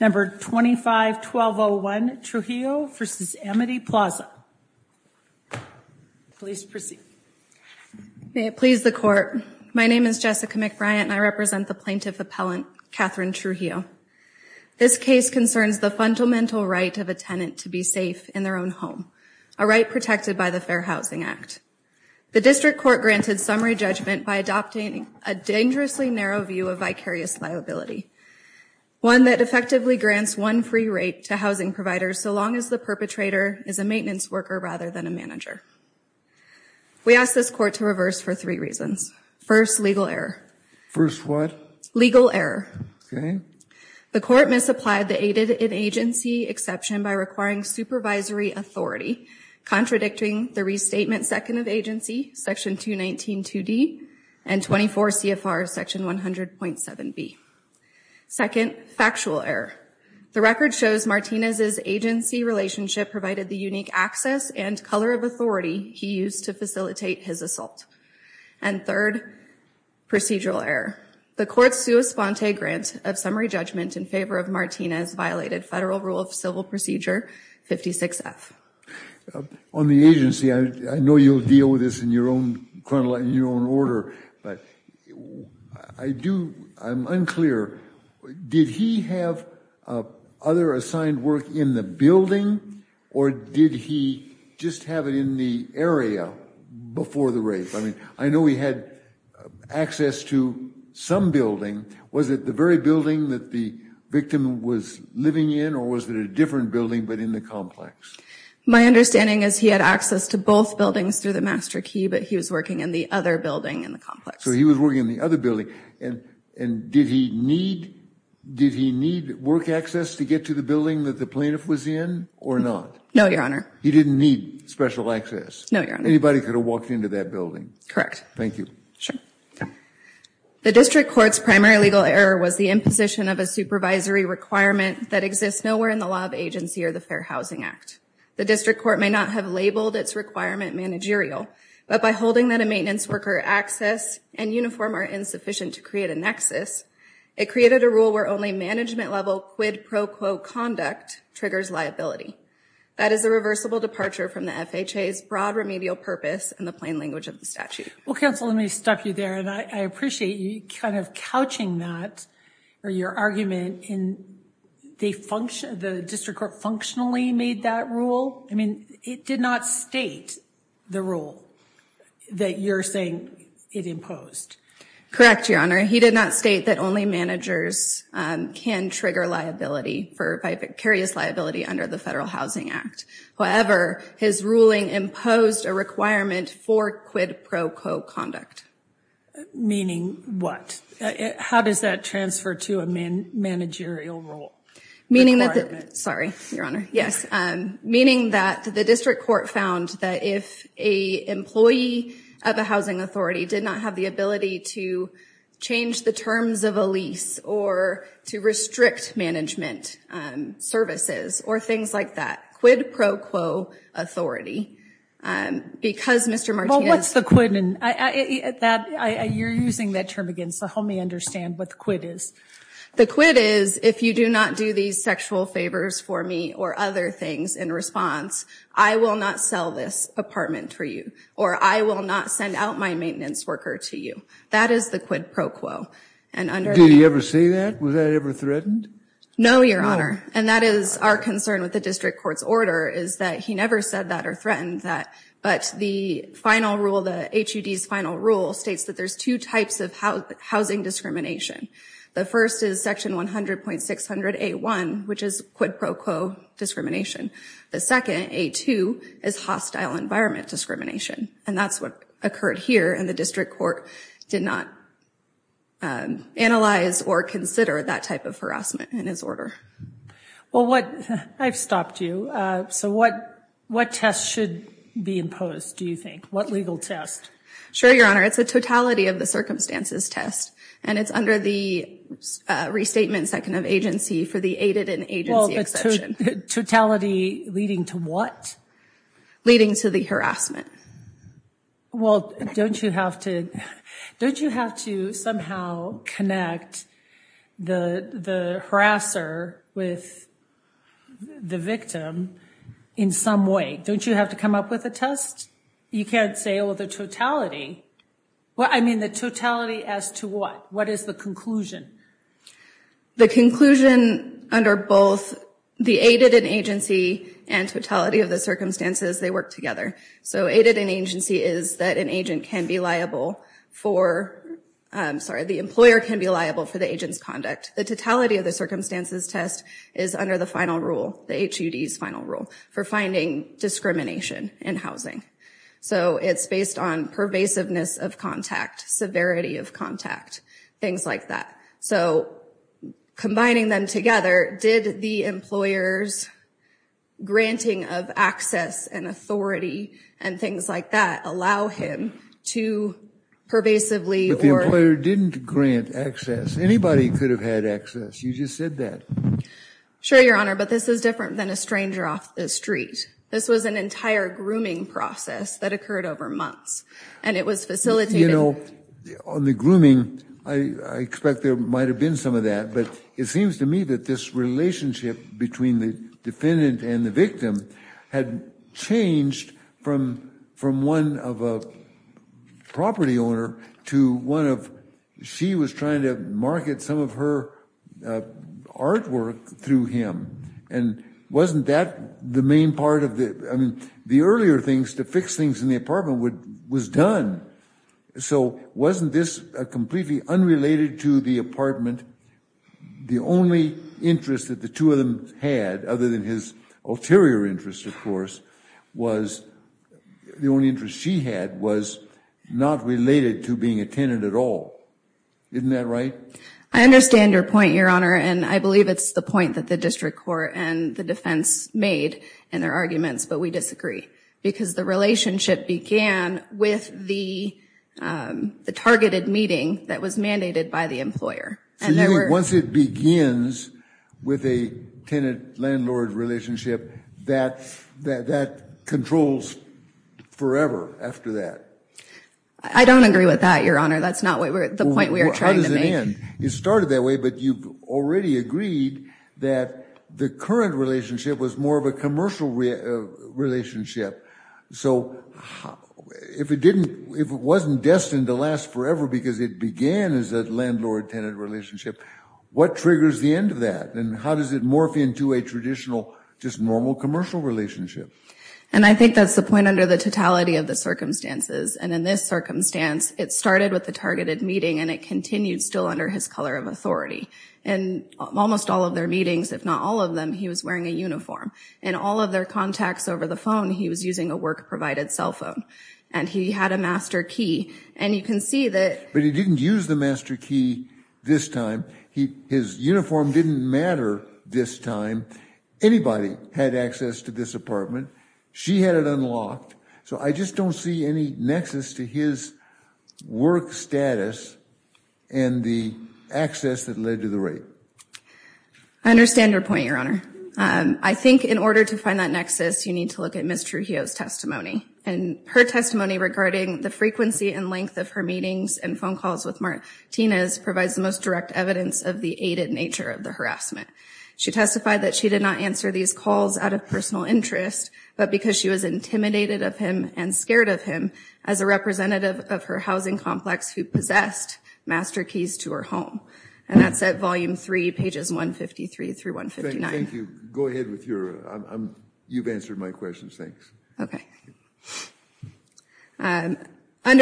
Number 25 1201 Trujillo v. Amity Plaza Please proceed May it please the court. My name is Jessica McBryant and I represent the plaintiff appellant Catherine Trujillo This case concerns the fundamental right of a tenant to be safe in their own home a right protected by the Fair Housing Act The district court granted summary judgment by adopting a dangerously narrow view of vicarious liability One that effectively grants one free rate to housing providers. So long as the perpetrator is a maintenance worker rather than a manager We asked this court to reverse for three reasons first legal error first what legal error? The court misapplied the aided in agency exception by requiring supervisory authority contradicting the restatement second of agency section 219 2d and 24 CFR section 100.7 B second factual error the record shows Martinez's agency relationship provided the unique access and color of authority he used to facilitate his assault and third Procedural error the court's sua sponte grant of summary judgment in favor of Martinez violated federal rule of civil procedure 56f On the agency. I know you'll deal with this in your own criminal in your own order, but I Do I'm unclear? Did he have? Other assigned work in the building or did he just have it in the area? Before the rape. I mean, I know he had access to Some building was at the very building that the victim was living in or was there a different building but in the complex My understanding is he had access to both buildings through the master key, but he was working in the other building in the complex So he was working in the other building and and did he need? Did he need work access to get to the building that the plaintiff was in or not? No, your honor He didn't need special access. No, you're on anybody could have walked into that building. Correct. Thank you. Sure The district courts primary legal error was the imposition of a supervisory Requirement that exists nowhere in the law of agency or the Fair Housing Act The district court may not have labeled its requirement managerial But by holding that a maintenance worker access and uniform are insufficient to create a nexus It created a rule where only management level quid pro quo conduct triggers liability That is a reversible departure from the FHA's broad remedial purpose and the plain language of the statute Well counsel, let me stop you there and I appreciate you kind of couching that or your argument in They function the district court functionally made that rule. I mean it did not state the rule That you're saying it imposed Correct. Your honor. He did not state that only managers Can trigger liability for by vicarious liability under the Federal Housing Act? However, his ruling imposed a requirement for quid pro quo conduct Meaning what? How does that transfer to a man managerial role meaning that sorry your honor? yes, and meaning that the district court found that if a employee of a housing authority did not have the ability to Change the terms of a lease or to restrict management Services or things like that quid pro quo authority Because mr. Martin. What's the quidman? That I you're using that term again So help me understand what the quid is The quid is if you do not do these sexual favors for me or other things in response I will not sell this apartment for you, or I will not send out my maintenance worker to you That is the quid pro quo and under do you ever say that was that ever threatened? No, your honor and that is our concern with the district court's order is that he never said that or threatened that but the Final rule the HUD's final rule states that there's two types of housing discrimination The first is section 100 point 600 a 1 which is quid pro quo Discrimination the second a 2 is hostile environment discrimination and that's what occurred here and the district court did not Analyze or consider that type of harassment in his order Well what I've stopped you so what what tests should be imposed? Do you think what legal test? Sure, your honor. It's a totality of the circumstances test and it's under the Restatement second of agency for the aided in age Totality leading to what? Leading to the harassment well, don't you have to don't you have to somehow connect the the harasser with The victim in some way don't you have to come up with a test? You can't say well the totality Well, I mean the totality as to what what is the conclusion the conclusion under both the aided in agency and totality of the circumstances they work together so aided in agency is that an agent can be liable for Sorry, the employer can be liable for the agents conduct the totality of the circumstances test is under the final rule the HUD's final rule for finding Discrimination in housing. So it's based on pervasiveness of contact severity of contact things like that. So Combining them together did the employers granting of access and authority and things like that allow him to Pervasively or didn't grant access anybody could have had access. You just said that Sure, your honor, but this is different than a stranger off the street This was an entire grooming process that occurred over months and it was facilitated. You know on the grooming I expect there might have been some of that but it seems to me that this relationship between the defendant and the victim had changed from from one of a property owner to one of She was trying to market some of her Artwork through him and Wasn't that the main part of the I mean the earlier things to fix things in the apartment would was done So wasn't this a completely unrelated to the apartment? the only interest that the two of them had other than his ulterior interest, of course was The only interest she had was not related to being a tenant at all Right, I understand your point your honor and I believe it's the point that the district court and the defense made and their arguments but we disagree because the relationship began with the The targeted meeting that was mandated by the employer and there were once it begins With a tenant landlord relationship that that that controls forever after that I Don't agree with that your honor. That's not what we're at the point We are trying to end it started that way, but you've already agreed that the current relationship was more of a commercial relationship, so If it didn't if it wasn't destined to last forever because it began as a landlord tenant relationship What triggers the end of that and how does it morph into a traditional just normal commercial relationship? And I think that's the point under the totality of the circumstances and in this circumstance it started with the targeted meeting and it continued still under his color of authority and Almost all of their meetings if not all of them He was wearing a uniform and all of their contacts over the phone He was using a work provided cell phone and he had a master key and you can see that But he didn't use the master key this time. He his uniform didn't matter this time Anybody had access to this apartment. She had it unlocked. So I just don't see any nexus to his work status and the access that led to the rape I Understand your point your honor. I think in order to find that nexus you need to look at mr He owes testimony and her testimony regarding the frequency and length of her meetings and phone calls with Martinez Provides the most direct evidence of the aided nature of the harassment She testified that she did not answer these calls out of personal interest But because she was intimidated of him and scared of him as a representative of her housing complex who possessed Master keys to her home and that's at volume 3 pages 153 through 159. Thank you. Go ahead with your You've answered my questions. Thanks. Okay Under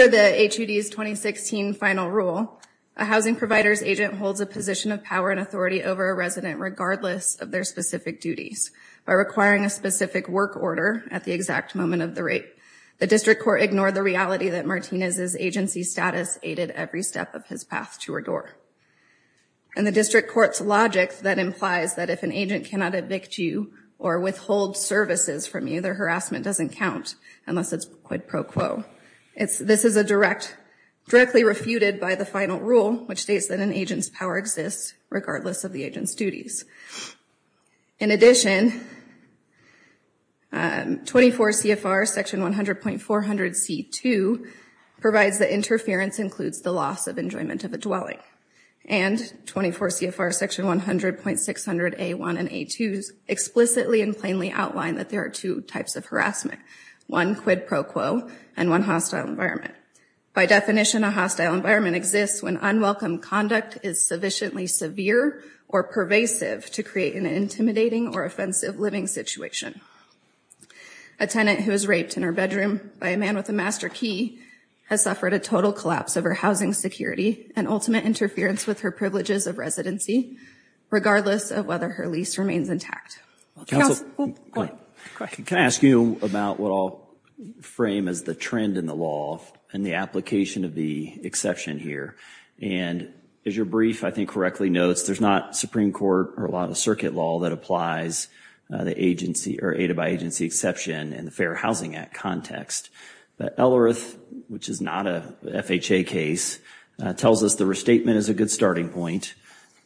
the HUD is 2016 final rule a housing providers agent holds a position of power and authority over a resident regardless of their specific duties By requiring a specific work order at the exact moment of the rape the district court ignored the reality that Martinez's agency status aided every step of his path to her door and The district courts logic that implies that if an agent cannot evict you or withhold services from you Their harassment doesn't count unless it's quit pro quo. It's this is a direct Directly refuted by the final rule which states that an agent's power exists regardless of the agent's duties in addition 24 CFR section 100 point 400 c2 provides the interference includes the loss of enjoyment of a dwelling and 24 CFR section 100 point 600 a1 and a twos Explicitly and plainly outlined that there are two types of harassment one quid pro quo and one hostile environment by definition a hostile environment exists when unwelcome conduct is sufficiently severe or pervasive to create an intimidating or offensive living situation a Tenant who was raped in her bedroom by a man with a master key Has suffered a total collapse of her housing security and ultimate interference with her privileges of residency regardless of whether her lease remains intact Can I ask you about what I'll Frame as the trend in the law and the application of the exception here and As your brief, I think correctly notes. There's not Supreme Court or a lot of circuit law that applies The agency or aided by agency exception and the Fair Housing Act context But L earth which is not a FHA case Tells us the restatement is a good starting point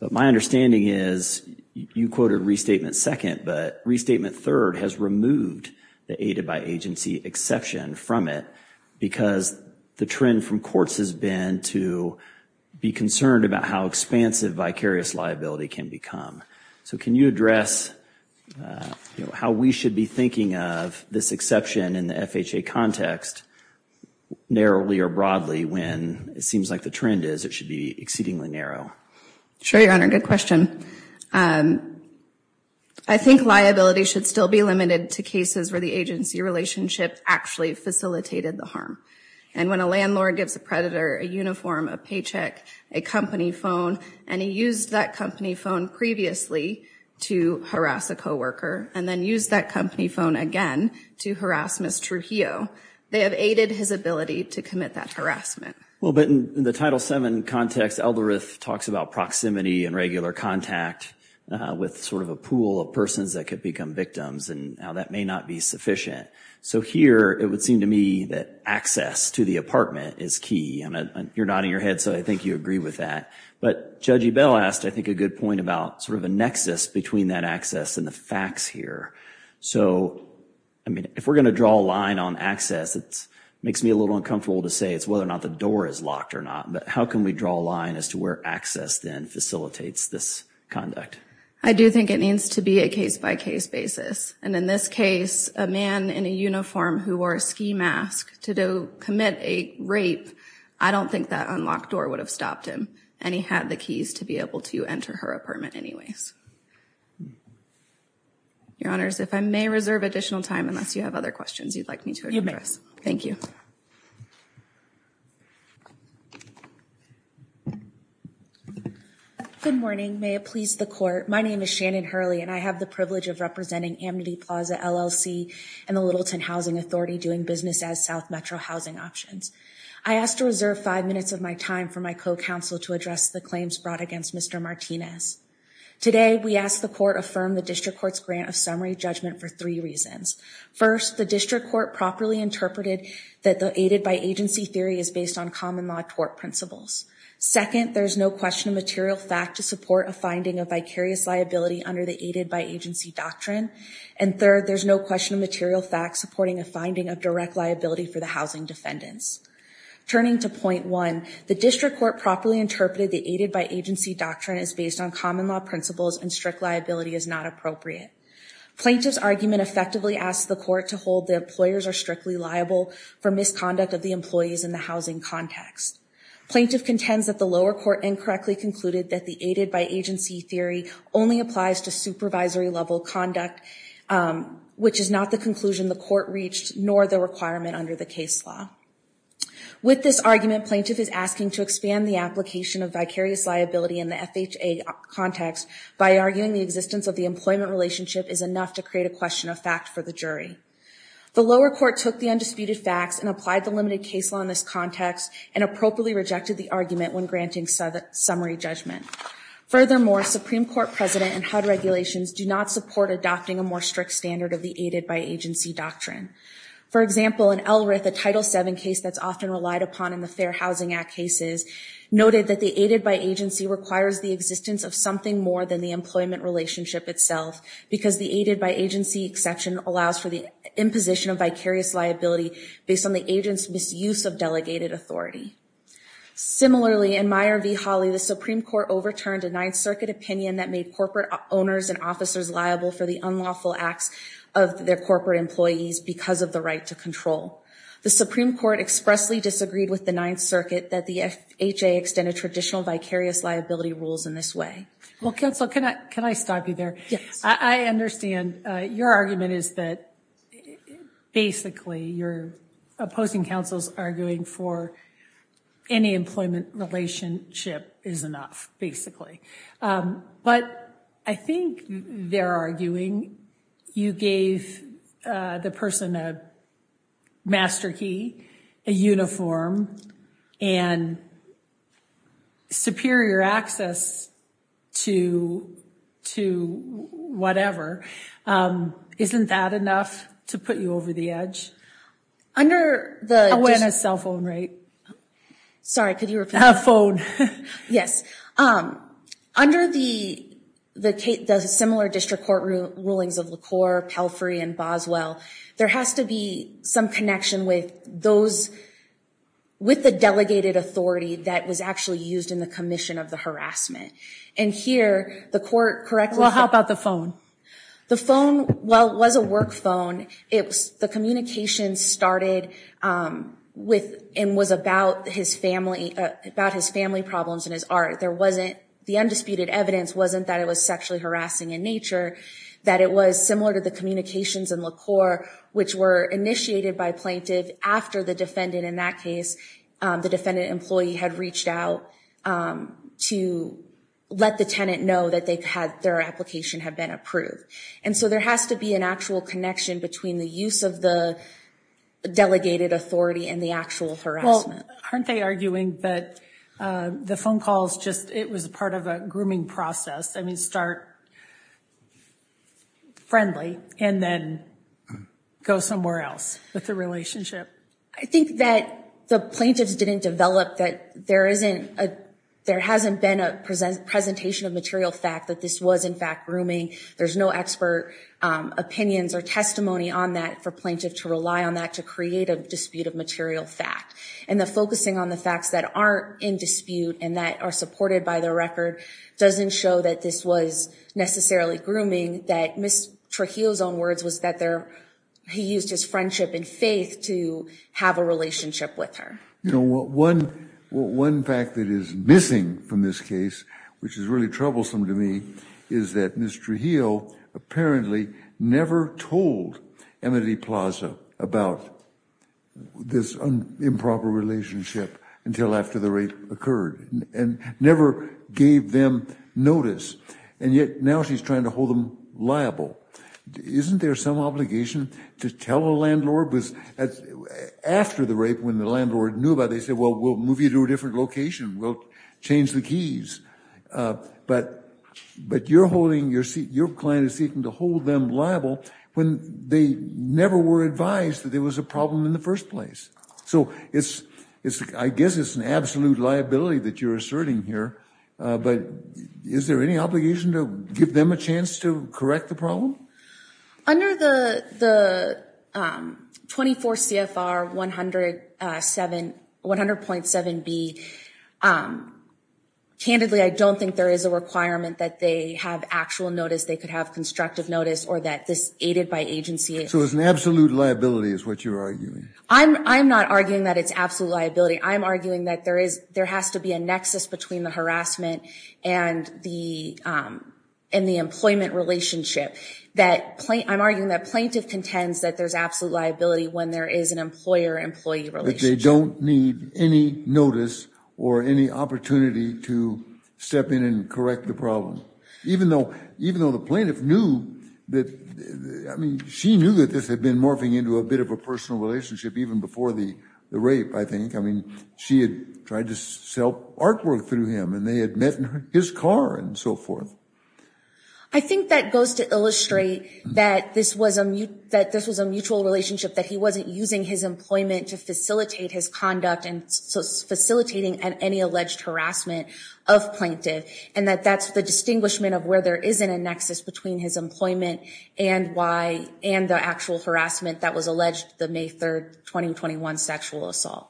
But my understanding is you quoted restatement second Restatement third has removed the aided by agency exception from it because the trend from courts has been to Be concerned about how expansive vicarious liability can become so, can you address? How we should be thinking of this exception in the FHA context Narrowly or broadly when it seems like the trend is it should be exceedingly narrow. Sure. You're on a good question I think liability should still be limited to cases where the agency relationship actually facilitated the harm and when a landlord gives a predator a uniform a paycheck a company phone and he used that company phone previously to Harass a co-worker and then use that company phone again to harass miss Trujillo They have aided his ability to commit that harassment Well, but in the title 7 context elderith talks about proximity and regular contact With sort of a pool of persons that could become victims and how that may not be sufficient So here it would seem to me that access to the apartment is key and you're nodding your head So I think you agree with that But judge ebell asked I think a good point about sort of a nexus between that access and the facts here So, I mean if we're gonna draw a line on access It's makes me a little uncomfortable to say it's whether or not the door is locked or not But how can we draw a line as to where access then facilitates this conduct? I do think it needs to be a case-by-case basis And in this case a man in a uniform who wore a ski mask to do commit a rape I don't think that unlocked door would have stopped him and he had the keys to be able to enter her apartment anyways Your honors if I may reserve additional time unless you have other questions you'd like me to address. Thank you Good Morning may it please the court My name is Shannon Hurley and I have the privilege of representing Amity Plaza LLC and the Littleton Housing Authority doing business as South Metro housing options I asked to reserve five minutes of my time for my co-counsel to address the claims brought against. Mr. Martinez Today we asked the court affirm the district courts grant of summary judgment for three reasons First the district court properly interpreted that the aided by agency theory is based on common law tort principles Second there's no question of material fact to support a finding of vicarious liability under the aided by agency doctrine and third There's no question of material fact supporting a finding of direct liability for the housing defendants Turning to point one the district court properly interpreted the aided by agency doctrine is based on common law principles and strict liability is not appropriate Plaintiff's argument effectively asked the court to hold the employers are strictly liable for misconduct of the employees in the housing context Plaintiff contends that the lower court incorrectly concluded that the aided by agency theory only applies to supervisory level conduct Which is not the conclusion the court reached nor the requirement under the case law With this argument plaintiff is asking to expand the application of vicarious liability in the FHA Context by arguing the existence of the employment relationship is enough to create a question of fact for the jury The lower court took the undisputed facts and applied the limited case law in this context and appropriately rejected the argument when granting summary judgment Furthermore Supreme Court president and HUD regulations do not support adopting a more strict standard of the aided by agency doctrine For example an LRF a title 7 case that's often relied upon in the Fair Housing Act cases Noted that the aided by agency requires the existence of something more than the employment relationship itself Because the aided by agency exception allows for the imposition of vicarious liability based on the agents misuse of delegated authority similarly in Meyer v Holly the Supreme Court overturned a Ninth Circuit opinion that made corporate owners and officers liable for the unlawful acts of their corporate employees because of the right to control The Supreme Court expressly disagreed with the Ninth Circuit that the FHA extended traditional vicarious liability rules in this way Well counsel, can I can I stop you there? Yes, I understand your argument is that Basically you're opposing counsel's arguing for Any employment relationship is enough basically But I think they're arguing you gave the person a Master key a uniform and Superior access to to whatever Isn't that enough to put you over the edge? Under the witness cell phone, right? Sorry, could you have phone? Yes under the The similar district court rulings of LaCour Pelfrey and Boswell there has to be some connection with those With the delegated authority that was actually used in the commission of the harassment and here the court correct Well, how about the phone the phone? Well was a work phone. It was the communication started With and was about his family about his family problems in his art There wasn't the undisputed evidence wasn't that it was sexually harassing in nature that it was similar to the communications in LaCour Which were initiated by plaintiff after the defendant in that case the defendant employee had reached out to let the tenant know that they've had their application have been approved and so there has to be an actual connection between the use of the delegated authority and the actual harassment aren't they arguing that The phone calls just it was a part of a grooming process. I mean start Friendly and then Go somewhere else with the relationship. I think that the plaintiffs didn't develop that there isn't a there hasn't been a Presentation of material fact that this was in fact grooming. There's no expert Opinions or testimony on that for plaintiff to rely on that to create a dispute of material fact and the focusing on the facts That aren't in dispute and that are supported by the record doesn't show that this was Necessarily grooming that Miss Trujillo's own words was that there He used his friendship and faith to have a relationship with her You know what one one fact that is missing from this case, which is really troublesome to me Is that Miss Trujillo? apparently never told Emily Plaza about This Improper relationship until after the rape occurred and never gave them notice and yet now She's trying to hold them liable isn't there some obligation to tell a landlord was After the rape when the landlord knew about they said well, we'll move you to a different location. We'll change the keys But but you're holding your seat Your client is seeking to hold them liable when they never were advised that there was a problem in the first place So it's it's I guess it's an absolute liability that you're asserting here But is there any obligation to give them a chance to correct the problem? under the the 24 CFR 107 100.7 B Um Candidly, I don't think there is a requirement that they have actual notice They could have constructive notice or that this aided by agency. So it's an absolute liability is what you're arguing I'm I'm not arguing that it's absolute liability. I'm arguing that there is there has to be a nexus between the harassment and the in the employment relationship That point I'm arguing that plaintiff contends that there's absolute liability when there is an employer-employee They don't need any notice or any opportunity to Step in and correct the problem even though even though the plaintiff knew that I Mean she knew that this had been morphing into a bit of a personal relationship even before the the rape I think I mean she had tried to sell artwork through him and they had met in his car and so forth. I Think that goes to illustrate that This wasn't you that this was a mutual relationship that he wasn't using his employment to facilitate his conduct and facilitating and any alleged harassment of plaintiff and that that's the Distinguishment of where there isn't a nexus between his employment and why and the actual harassment that was alleged the May 3rd 2021 sexual assault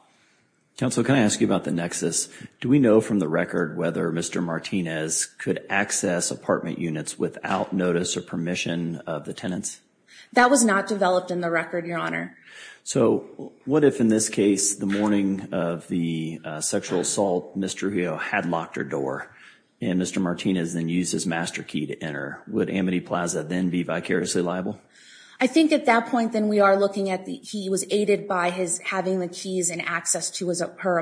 Counsel, can I ask you about the nexus? Do we know from the record whether mr Martinez could access apartment units without notice or permission of the tenants that was not developed in the record your honor So what if in this case the morning of the sexual assault? Mr. He had locked her door and mr. Martinez then used his master key to enter would Amity Plaza then be vicariously liable I think at that point then we are looking at the he was aided by his having the keys and access to as a per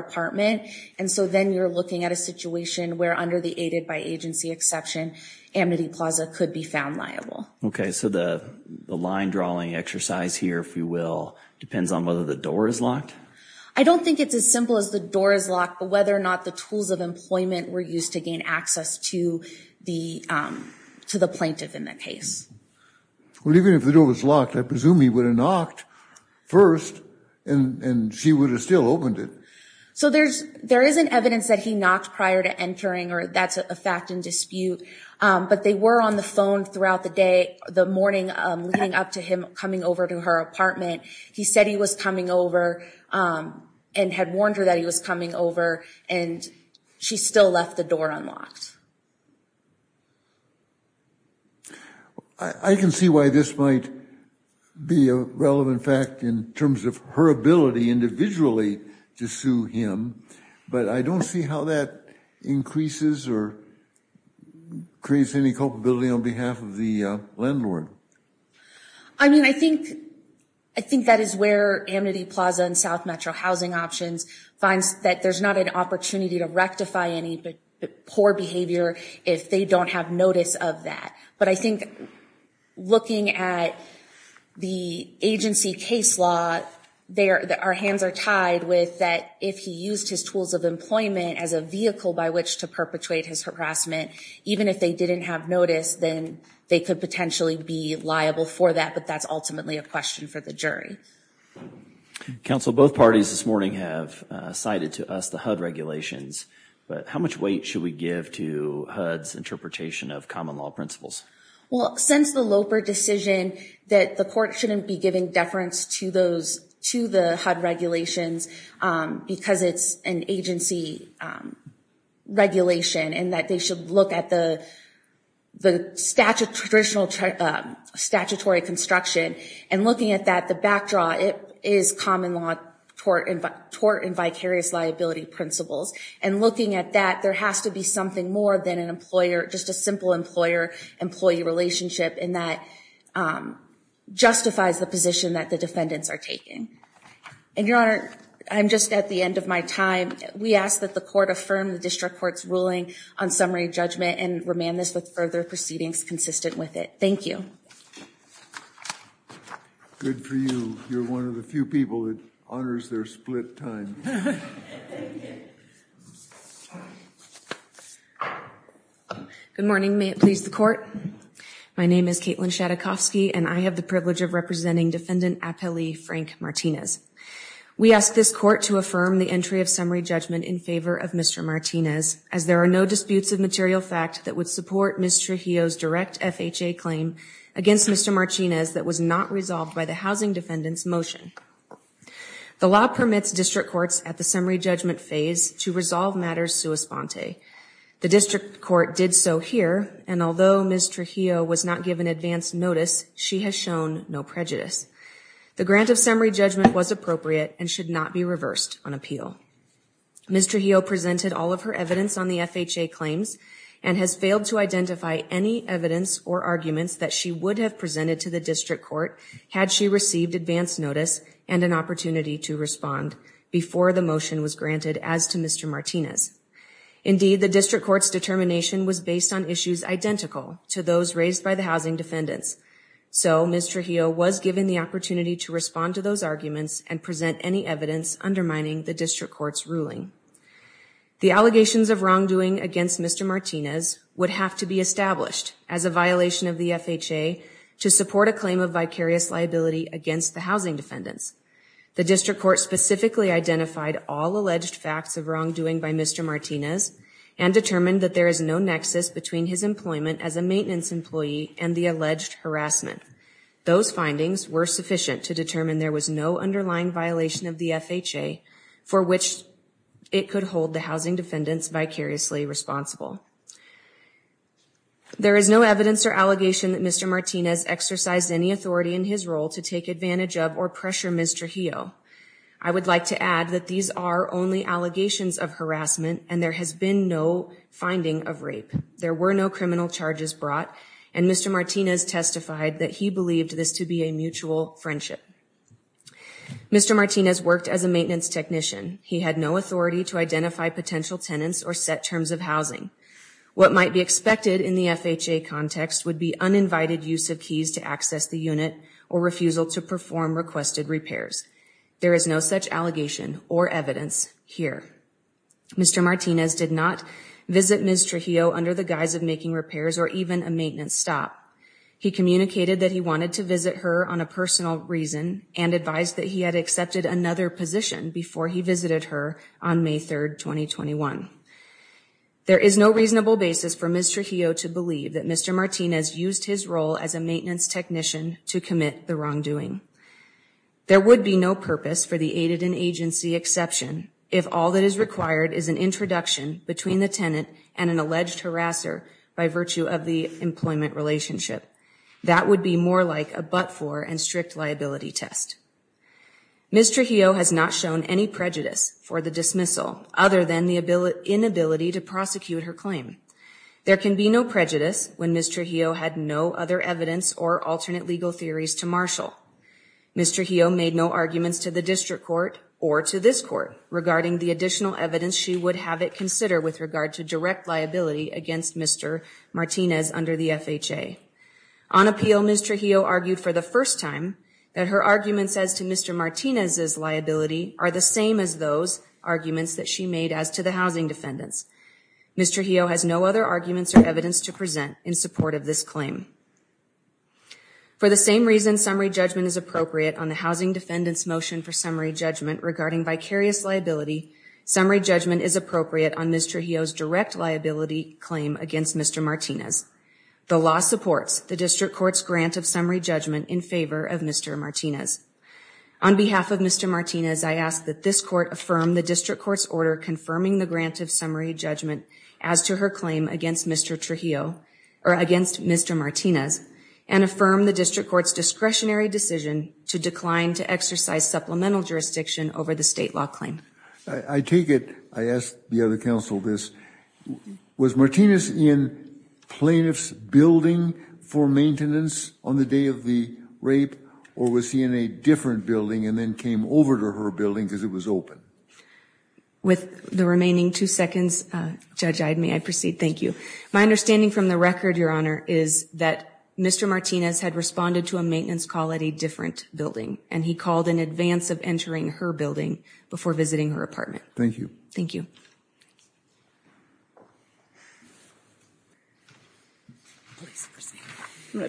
And so then you're looking at a situation where under the aided by agency exception Amity Plaza could be found liable Okay, so the the line drawing exercise here if you will depends on whether the door is locked I don't think it's as simple as the door is locked But whether or not the tools of employment were used to gain access to the to the plaintiff in the case Well, even if the door was locked, I presume he would have knocked First and She would have still opened it So there's there is an evidence that he knocked prior to entering or that's a fact in dispute But they were on the phone throughout the day the morning leading up to him coming over to her apartment he said he was coming over and had warned her that he was coming over and She still left the door unlocked. I In terms of her ability individually to sue him, but I don't see how that increases or Creates any culpability on behalf of the landlord. I mean, I think I think that is where Amity Plaza and South Metro housing options finds that there's not an opportunity to rectify any poor behavior if they don't have notice of that, but I think looking at The agency case law there that our hands are tied with that if he used his tools of Employment as a vehicle by which to perpetrate his harassment Even if they didn't have notice then they could potentially be liable for that, but that's ultimately a question for the jury Counsel both parties this morning have cited to us the HUD regulations But how much weight should we give to HUD's interpretation of common law principles? Well since the Loper decision that the court shouldn't be giving deference to those to the HUD regulations Because it's an agency Regulation and that they should look at the the statute traditional Statutory construction and looking at that the backdraw it is common law Tort and tort and vicarious liability principles and looking at that there has to be something more than an employer just a simple employer employee relationship and that Justifies the position that the defendants are taking and your honor. I'm just at the end of my time We ask that the court affirm the district courts ruling on summary judgment and remand this with further proceedings consistent with it. Thank you Good for you, you're one of the few people that honors their split time Good morning, may it please the court? My name is Caitlin Shatokovsky and I have the privilege of representing defendant appellee Frank Martinez We asked this court to affirm the entry of summary judgment in favor of mr Martinez as there are no disputes of material fact that would support mr. Heo's direct FHA claim against mr. Martinez that was not resolved by the housing defendants motion The law permits district courts at the summary judgment phase to resolve matters sui sponte The district court did so here and although mr. Heo was not given advance notice. She has shown no prejudice The grant of summary judgment was appropriate and should not be reversed on appeal Mr. Heo presented all of her evidence on the FHA claims and has failed to identify any Evidence or arguments that she would have presented to the district court had she received advance notice and an opportunity to respond Before the motion was granted as to mr. Martinez Indeed the district courts determination was based on issues identical to those raised by the housing defendants So, mr Heo was given the opportunity to respond to those arguments and present any evidence undermining the district courts ruling The allegations of wrongdoing against mr Martinez would have to be established as a violation of the FHA to support a claim of vicarious liability against the housing defendants the district court specifically identified all alleged facts of wrongdoing by mr Martinez and Determined that there is no nexus between his employment as a maintenance employee and the alleged harassment Those findings were sufficient to determine there was no underlying violation of the FHA for which It could hold the housing defendants vicariously responsible There is no evidence or allegation that mr. Martinez exercised any authority in his role to take advantage of or pressure. Mr Heo, I would like to add that these are only allegations of harassment and there has been no finding of rape There were no criminal charges brought and mr. Martinez testified that he believed this to be a mutual friendship Mr. Martinez worked as a maintenance technician. He had no authority to identify potential tenants or set terms of housing What might be expected in the FHA context would be uninvited use of keys to access the unit or refusal to perform? Requested repairs. There is no such allegation or evidence here Mr. Martinez did not visit. Mr. Heo under the guise of making repairs or even a maintenance stop He communicated that he wanted to visit her on a personal reason and advised that he had accepted another position Before he visited her on May 3rd, 2021 There is no reasonable basis for mr. Heo to believe that. Mr Martinez used his role as a maintenance technician to commit the wrongdoing There would be no purpose for the aided in agency exception If all that is required is an introduction between the tenant and an alleged harasser by virtue of the employment relationship That would be more like a but for and strict liability test Mr. Heo has not shown any prejudice for the dismissal other than the ability inability to prosecute her claim There can be no prejudice when mr. Heo had no other evidence or alternate legal theories to marshal Mr. Heo made no arguments to the district court or to this court regarding the additional evidence She would have it consider with regard to direct liability against. Mr. Martinez under the FHA on Appeal. Mr. Heo argued for the first time that her arguments as to mr Martinez's liability are the same as those arguments that she made as to the housing defendants Mr. Heo has no other arguments or evidence to present in support of this claim For the same reason summary judgment is appropriate on the housing defendants motion for summary judgment regarding vicarious liability Summary judgment is appropriate on mr. Heo's direct liability claim against. Mr. Martinez The law supports the district courts grant of summary judgment in favor of mr. Martinez on behalf of mr Martinez I ask that this court affirm the district courts order confirming the grant of summary judgment as to her claim against mr Trujillo or against mr Martinez and affirm the district courts discretionary decision to decline to exercise supplemental jurisdiction over the state law claim I take it. I asked the other counsel this was Martinez in plaintiffs building for maintenance on the day of the Building because it was open With the remaining two seconds judge. I'd may I proceed. Thank you My understanding from the record your honor is that mr Martinez had responded to a maintenance call at a different building and he called in advance of entering her building before visiting her apartment Thank you. Thank you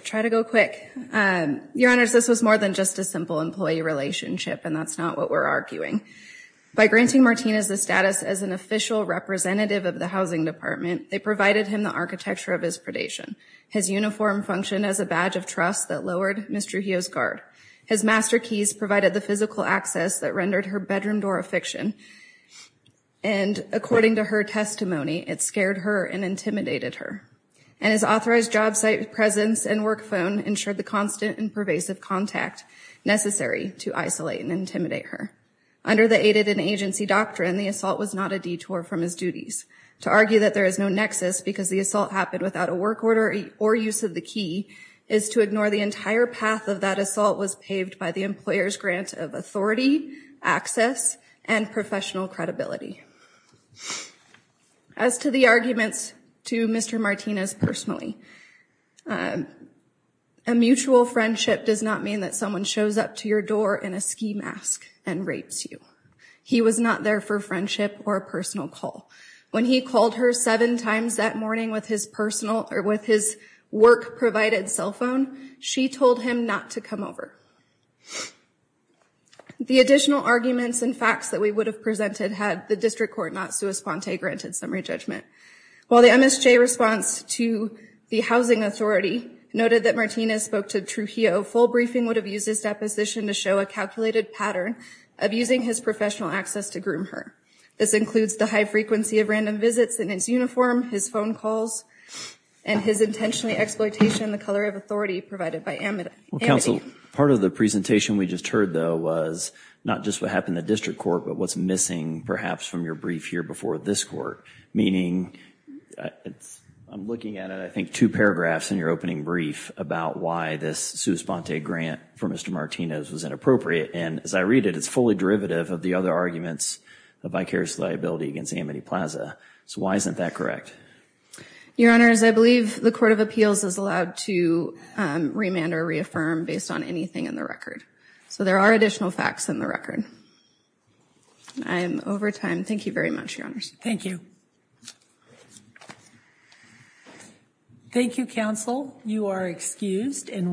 Try to go quick Your honors this was more than just a simple employee relationship and that's not what we're arguing By granting Martinez the status as an official representative of the housing department They provided him the architecture of his predation his uniform functioned as a badge of trust that lowered. Mr Heo's guard his master keys provided the physical access that rendered her bedroom door a fiction and According to her testimony it scared her and intimidated her and his authorized job site presence and work phone ensured the constant and pervasive contact Necessary to isolate and intimidate her under the aided an agency doctrine The assault was not a detour from his duties to argue that there is no nexus because the assault happened without a work order or use of the key is To ignore the entire path of that assault was paved by the employers grant of authority access and professional credibility As to the arguments to mr. Martinez personally a Mutual friendship does not mean that someone shows up to your door in a ski mask and rapes you He was not there for friendship or a personal call when he called her seven times that morning with his personal or with his Work provided cell phone. She told him not to come over The additional arguments and facts that we would have presented had the district court not sua sponte granted summary judgment While the MSJ response to the housing authority Noted that Martinez spoke to Trujillo full briefing would have used his deposition to show a calculated pattern of using his professional access to groom her this includes the high frequency of random visits in his uniform his phone calls and His intentionally exploitation the color of authority provided by eminent counsel part of the presentation We just heard though was not just what happened the district court but what's missing perhaps from your brief here before this court meaning It's I'm looking at it. I think two paragraphs in your opening brief about why this sua sponte grant for mr Martinez was inappropriate and as I read it, it's fully derivative of the other arguments of vicarious liability against amity plaza So why isn't that correct? your honors, I believe the Court of Appeals is allowed to Remand or reaffirm based on anything in the record. So there are additional facts in the record I'm over time. Thank you very much. Your honors. Thank you Thank You counsel you are excused and